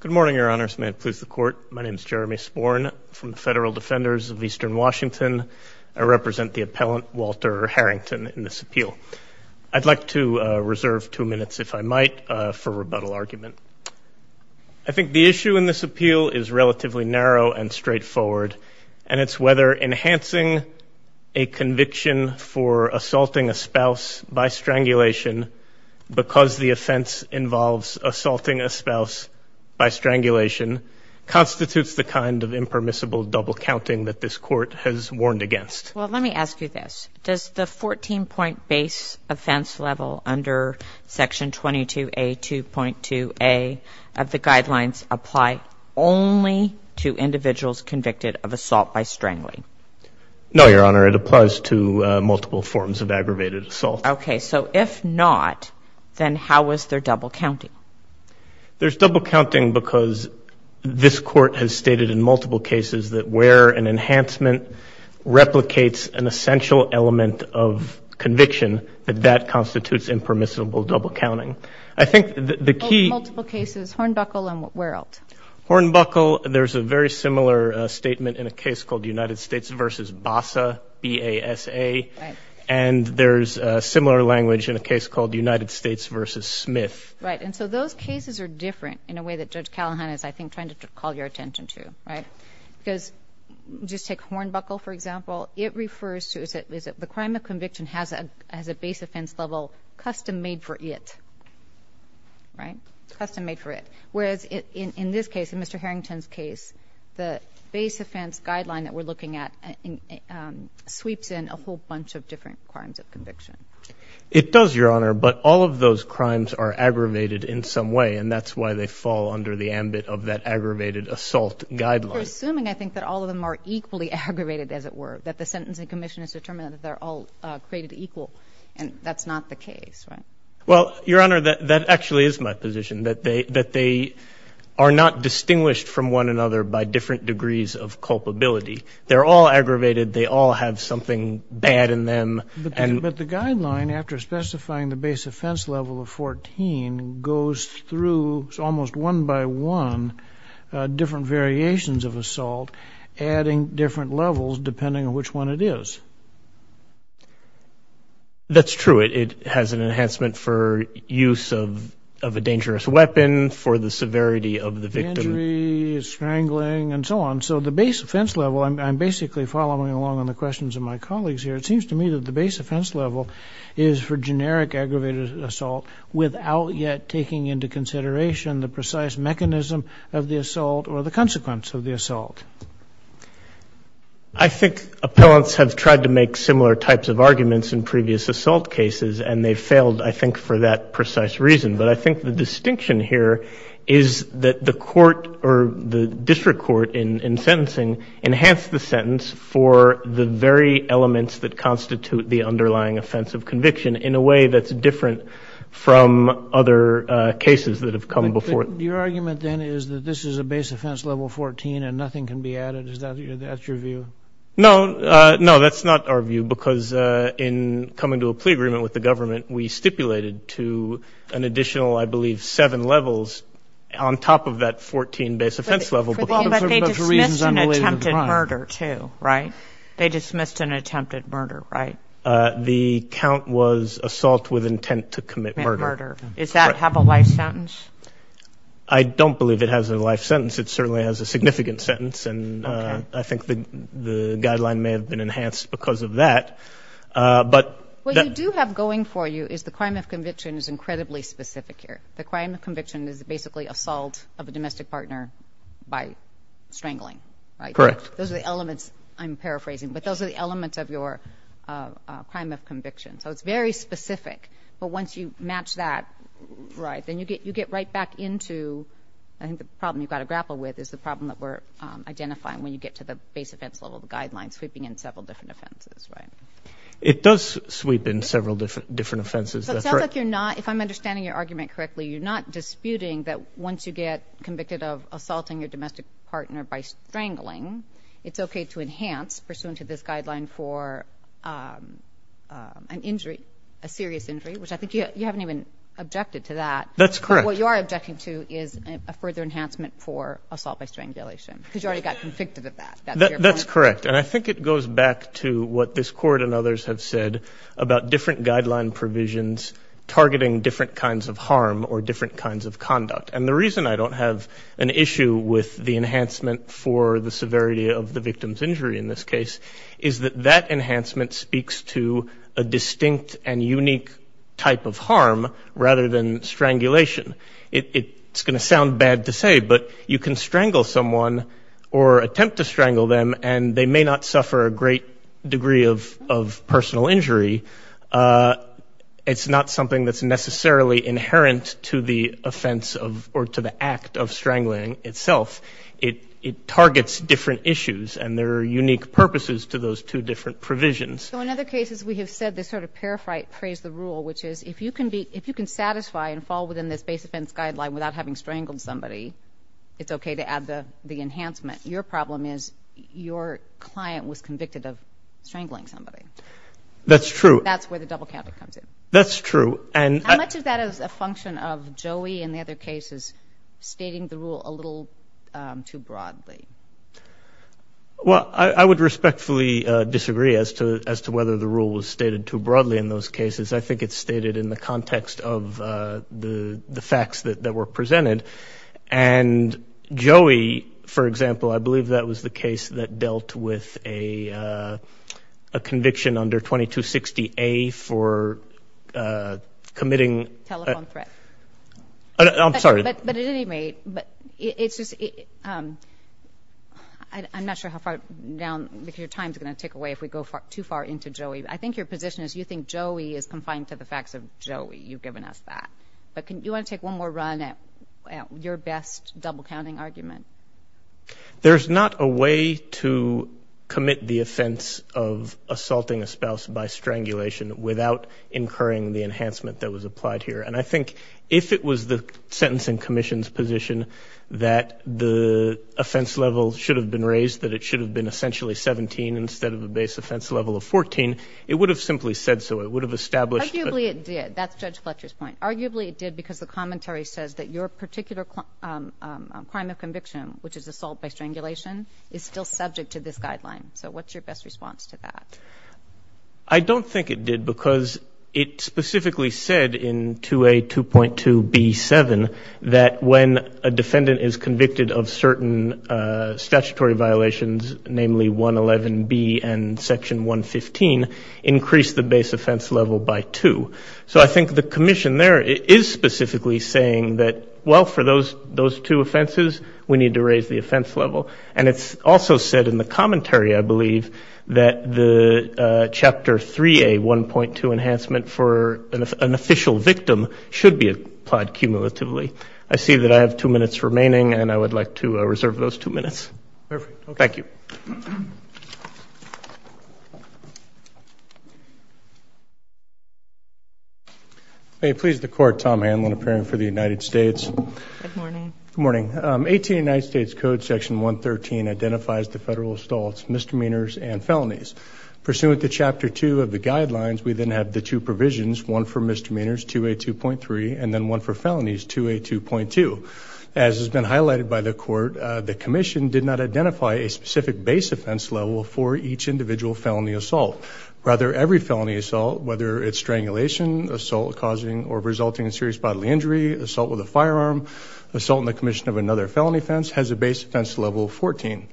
Good morning, Your Honors. May it please the Court, my name is Jeremy Sporn from the Federal Defenders of Eastern Washington. I represent the appellant, Walter Harrington, in this appeal. I'd like to reserve two minutes, if I might, for rebuttal argument. I think the issue in this appeal is relatively narrow and straightforward, and it's whether enhancing a conviction for assaulting a spouse by strangulation because the offense involves assaulting a spouse by strangulation constitutes the kind of impermissible double-counting that this Court has warned against. Well, let me ask you this. Does the 14-point base offense level under Section 22A, 2.2a of the guidelines apply only to individuals convicted of assault by strangling? No, Your Honor. It applies to multiple forms of aggravated assault. Okay. So if not, then how is there double-counting? There's double-counting because this Court has stated in multiple cases that where an enhancement replicates an essential element of conviction, that that constitutes impermissible double-counting. I think the key In multiple cases, Hornbuckle and Where-Elt. Hornbuckle, there's a very similar statement in a case called United States v. BASA, B-A-S-A, and there's a similar language in a case called United States v. Smith. Right. And so those cases are different in a way that Judge Callahan is, I think, trying to call your attention to, right? Because just take Hornbuckle, for example. It refers to is that the crime of conviction has a base offense level custom-made for it, right? Custom-made for it. Whereas in this case, in Mr. Harrington's case, the base offense guideline that we're looking at sweeps in a whole bunch of different crimes of conviction. It does, Your Honor, but all of those crimes are aggravated in some way, and that's why they fall under the ambit of that aggravated assault guideline. We're assuming, I think, that all of them are equally aggravated, as it were, that the sentencing commission has determined that they're all created equal, and that's not the case, right? Well, Your Honor, that actually is my position, that they are not distinguished from one another by different degrees of culpability. They're all aggravated. They all have something bad in them. But the guideline, after specifying the base offense level of 14, goes through almost one by one, different variations of assault, adding different levels, depending on which one it is. That's true. It has an enhancement for use of a dangerous weapon, for the severity of the victim. Injury, strangling, and so on. So the base offense level, I'm basically following along on the questions of my colleagues here. It seems to me that the base offense level is for generic aggravated assault, without yet taking into consideration the precise mechanism of the assault, or the consequence of the assault. I think appellants have tried to make similar types of arguments in previous assault cases, and they failed, I think, for that precise reason. But I think the distinction here is that the court, or the district court in sentencing, enhanced the sentence for the very elements that constitute the underlying offense of conviction, in a way that's different from other cases that have come before it. Your argument, then, is that this is a base offense level 14, and nothing can be added? Is that your view? No. No, that's not our view. Because in coming to a plea agreement with the government, we stipulated to an additional, I believe, seven levels, on top of that 14 base offense level. But they dismissed an attempted murder, too, right? They dismissed an attempted murder, right? The count was assault with intent to commit murder. Does that have a life sentence? I don't believe it has a life sentence. It certainly has a significant sentence, and I think the guideline may have been enhanced because of that. What you do have going for you is the crime of conviction is incredibly specific here. The crime of conviction is basically assault of a domestic partner by strangling, right? Correct. Those are the elements, I'm paraphrasing, but those are the elements of your crime of conviction. So it's very specific. But once you match that, right, then you get right back into, I think the problem you've got to grapple with is the problem that we're identifying when you get to the base offense level, the guidelines sweeping in several different offenses, right? It does sweep in several different offenses, that's right. If I'm understanding your argument correctly, you're not disputing that once you get convicted of assaulting your domestic partner by strangling, it's okay to enhance pursuant to this guideline for an injury, a serious injury, which I think you haven't even objected to that. That's correct. What you are objecting to is a further enhancement for assault by strangulation because you already got convicted of that. That's correct. And I think it goes back to what this court and others have said about different guideline provisions targeting different kinds of harm or different kinds of conduct. And the reason I don't have an issue with the enhancement for the severity of the victim's injury in this case is that that enhancement speaks to a distinct and unique type of harm rather than strangulation. It's going to sound bad to say, but you can strangle someone or attempt to strangle them and they may not suffer a great degree of personal injury. It's not something that's necessarily inherent to the offense or to the act of strangling itself. It targets different issues and there are unique purposes to those two different provisions. So in other cases, we have said this sort of paraphrase the rule, which is if you can satisfy and fall within this base offense guideline without having strangled somebody, it's okay to add the enhancement. Your problem is your client was convicted of strangling somebody. That's true. That's where the double counter comes in. That's true. And how much of that is a function of Joey and the other cases stating the rule a little too broadly? Well, I would respectfully disagree as to whether the rule was stated too broadly in those cases. I think it's stated in the context of the facts that were presented. And Joey, for example, I believe that was the case that dealt with a conviction under 2260A for committing telephone threat. I'm sorry, but at any rate, but it's just, I'm not sure how far down your time is going to take away if we go too far into Joey. I think your position is you think Joey is confined to the facts of Joey. You've given us that, but can you want to take one more run at your best double counting argument? There's not a way to commit the offense of assaulting a spouse by strangulation without incurring the enhancement that was applied here. And I think if it was the sentencing commission's position that the offense level should have been raised, that it should have been essentially 17 instead of the base offense level of 14, it would have simply said so. It would have established. Arguably it did. That's Judge Fletcher's point. Arguably it did because the commentary says that your particular crime of conviction, which is assault by strangulation, is still subject to this guideline. So what's your best response to that? I don't think it did because it specifically said in 2A.2.2B.7 that when a defendant is convicted of certain statutory violations, namely 111B and section 115, increase the base offense level by 2. So I think the commission there is specifically saying that, well, for those two offenses, we need to raise the offense level. And it's also said in the commentary, I believe, that the Chapter 3A.1.2 enhancement for an official victim should be applied cumulatively. I see that I have two minutes remaining, and I would like to reserve those two minutes. Perfect. Thank you. May it please the Court, Tom Hanlon, appearing for the United States. Good morning. Good morning. 18 United States Code Section 113 identifies the federal assaults, misdemeanors, and felonies. Pursuant to Chapter 2 of the guidelines, we then have the two provisions, one for misdemeanors, 2A.2.3, and then one for felonies, 2A.2.2. As has been highlighted by the Court, the commission did not identify a specific base offense level for each individual felony assault. Rather, every felony assault, whether it's strangulation, assault causing or resulting in serious bodily injury, assault with a firearm, assault on the commission of another felony offense, has a base offense level 14.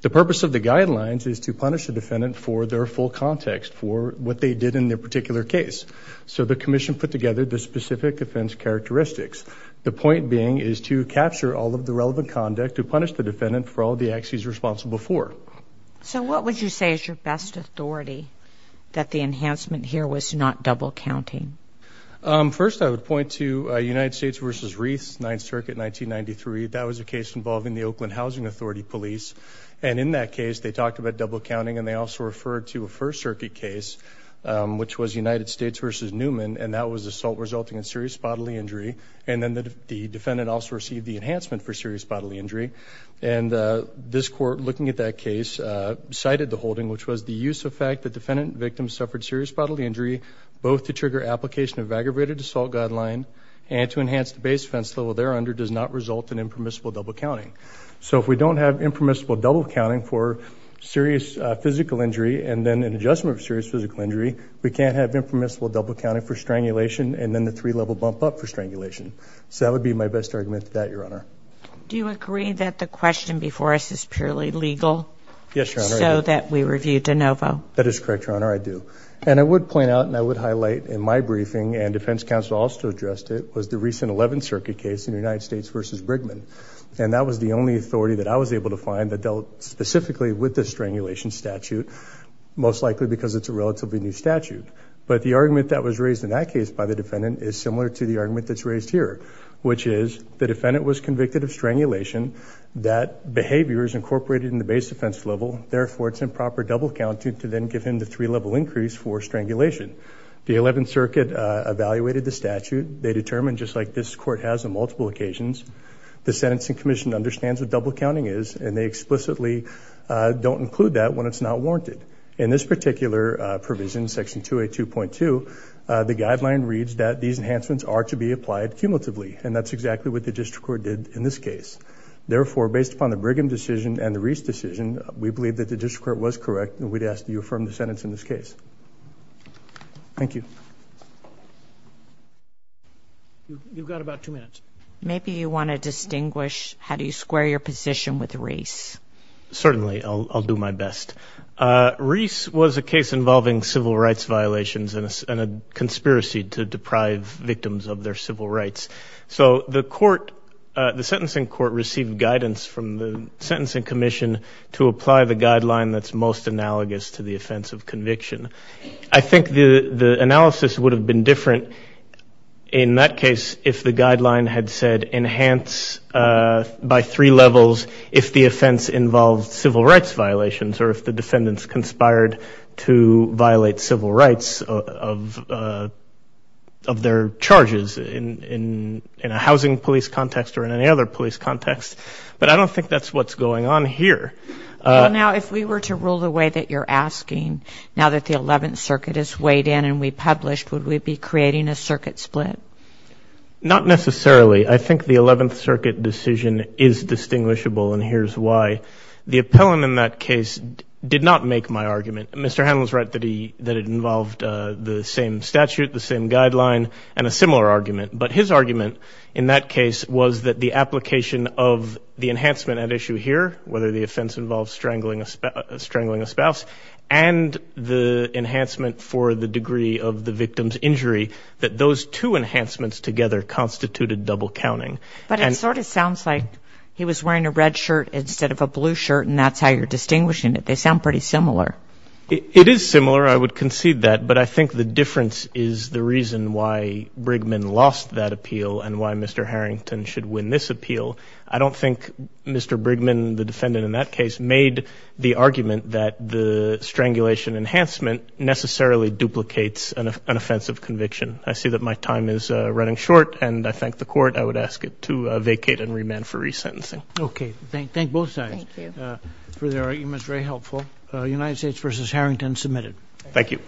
The purpose of the guidelines is to punish the defendant for their full context, for what they did in their particular case. So the commission put together the specific offense characteristics. The point being is to capture all of the relevant conduct, to punish the defendant for all the acts he's responsible for. So what would you say is your best authority that the enhancement here was not double counting? First, I would point to United States v. Wreaths, 9th Circuit, 1993. That was a case involving the Oakland Housing Authority Police. And in that case, they talked about double counting and they also referred to a 1st Circuit case, which was United States v. Newman, and that was assault resulting in serious bodily injury. And then the defendant also received the enhancement for serious bodily injury. And this Court, looking at that case, cited the holding, which was the use of fact that defendant and victim suffered serious bodily injury, both to trigger application of aggravated assault guideline and to enhance the base offense level there under does not result in impermissible double counting. So if we don't have impermissible double counting for serious physical injury and then an adjustment of serious physical injury, we can't have impermissible double counting for strangulation and then the three-level bump up for strangulation. So that would be my best argument to that, Your Honor. Do you agree that the question before us is purely legal so that we review de novo? That is correct, Your Honor, I do. And I would point out and I would highlight in my briefing and defense counsel also addressed it, was the recent 11th Circuit case in United States v. Brigham. And that was the only authority that I was able to find that dealt specifically with the strangulation statute, most likely because it's a relatively new statute. But the argument that was raised in that case by the defendant is similar to the argument that's raised here, which is the defendant was convicted of strangulation, that behavior is incorporated in the base offense level, therefore it's improper double counting to then give him the three-level increase for strangulation. The 11th Circuit evaluated the statute. They determined, just like this Court has on multiple occasions, the Sentencing Commission understands what double counting is and they explicitly don't include that when it's not warranted. In this particular provision, Section 282.2, the guideline reads that these enhancements are to be applied cumulatively, and that's exactly what the district court did in this case. Therefore, based upon the Brigham decision and the Reese decision, we believe that the district court was correct and we'd ask that you affirm the sentence in this case. Thank you. You've got about two minutes. Maybe you want to distinguish how do you square your position with Reese. Certainly, I'll do my best. Reese was a case involving civil rights violations and a conspiracy to deprive victims of their civil rights. So the court, the sentencing court received guidance from the Sentencing Commission to apply the guideline that's most analogous to the offense of conviction. I think the analysis would have been different in that case if the guideline had said enhance by three levels if the offense involved civil rights violations or if the defendants conspired to violate civil rights of their charges in a housing police context or in any other police context. But I don't think that's what's going on here. Now, if we were to rule the way that you're asking, now that the 11th Circuit is weighed in and republished, would we be creating a circuit split? Not necessarily. I think the 11th Circuit decision is distinguishable and here's why. The appellant in that case did not make my argument. Mr. Hanlon's right that it involved the same statute, the same guideline, and a similar argument. But his argument in that case was that the application of the enhancement at issue here, whether the offense involves strangling a spouse and the enhancement for the degree of the victim's injury, that those two enhancements together constituted double counting. But it sort of sounds like he was wearing a red shirt instead of a blue shirt and that's how you're distinguishing it. They sound pretty similar. It is similar. I would concede that. But I think the difference is the reason why Brigham lost that appeal and why Mr. Harrington should win this appeal. I don't think Mr. Brigham, the defendant in that case, made the argument that the strangulation enhancement necessarily duplicates an offensive conviction. I see that my time is running short and I thank the court. I would ask it to vacate and remand for resentencing. Okay. Thank both sides for their arguments. Very helpful. United States v. Harrington submitted. Thank you.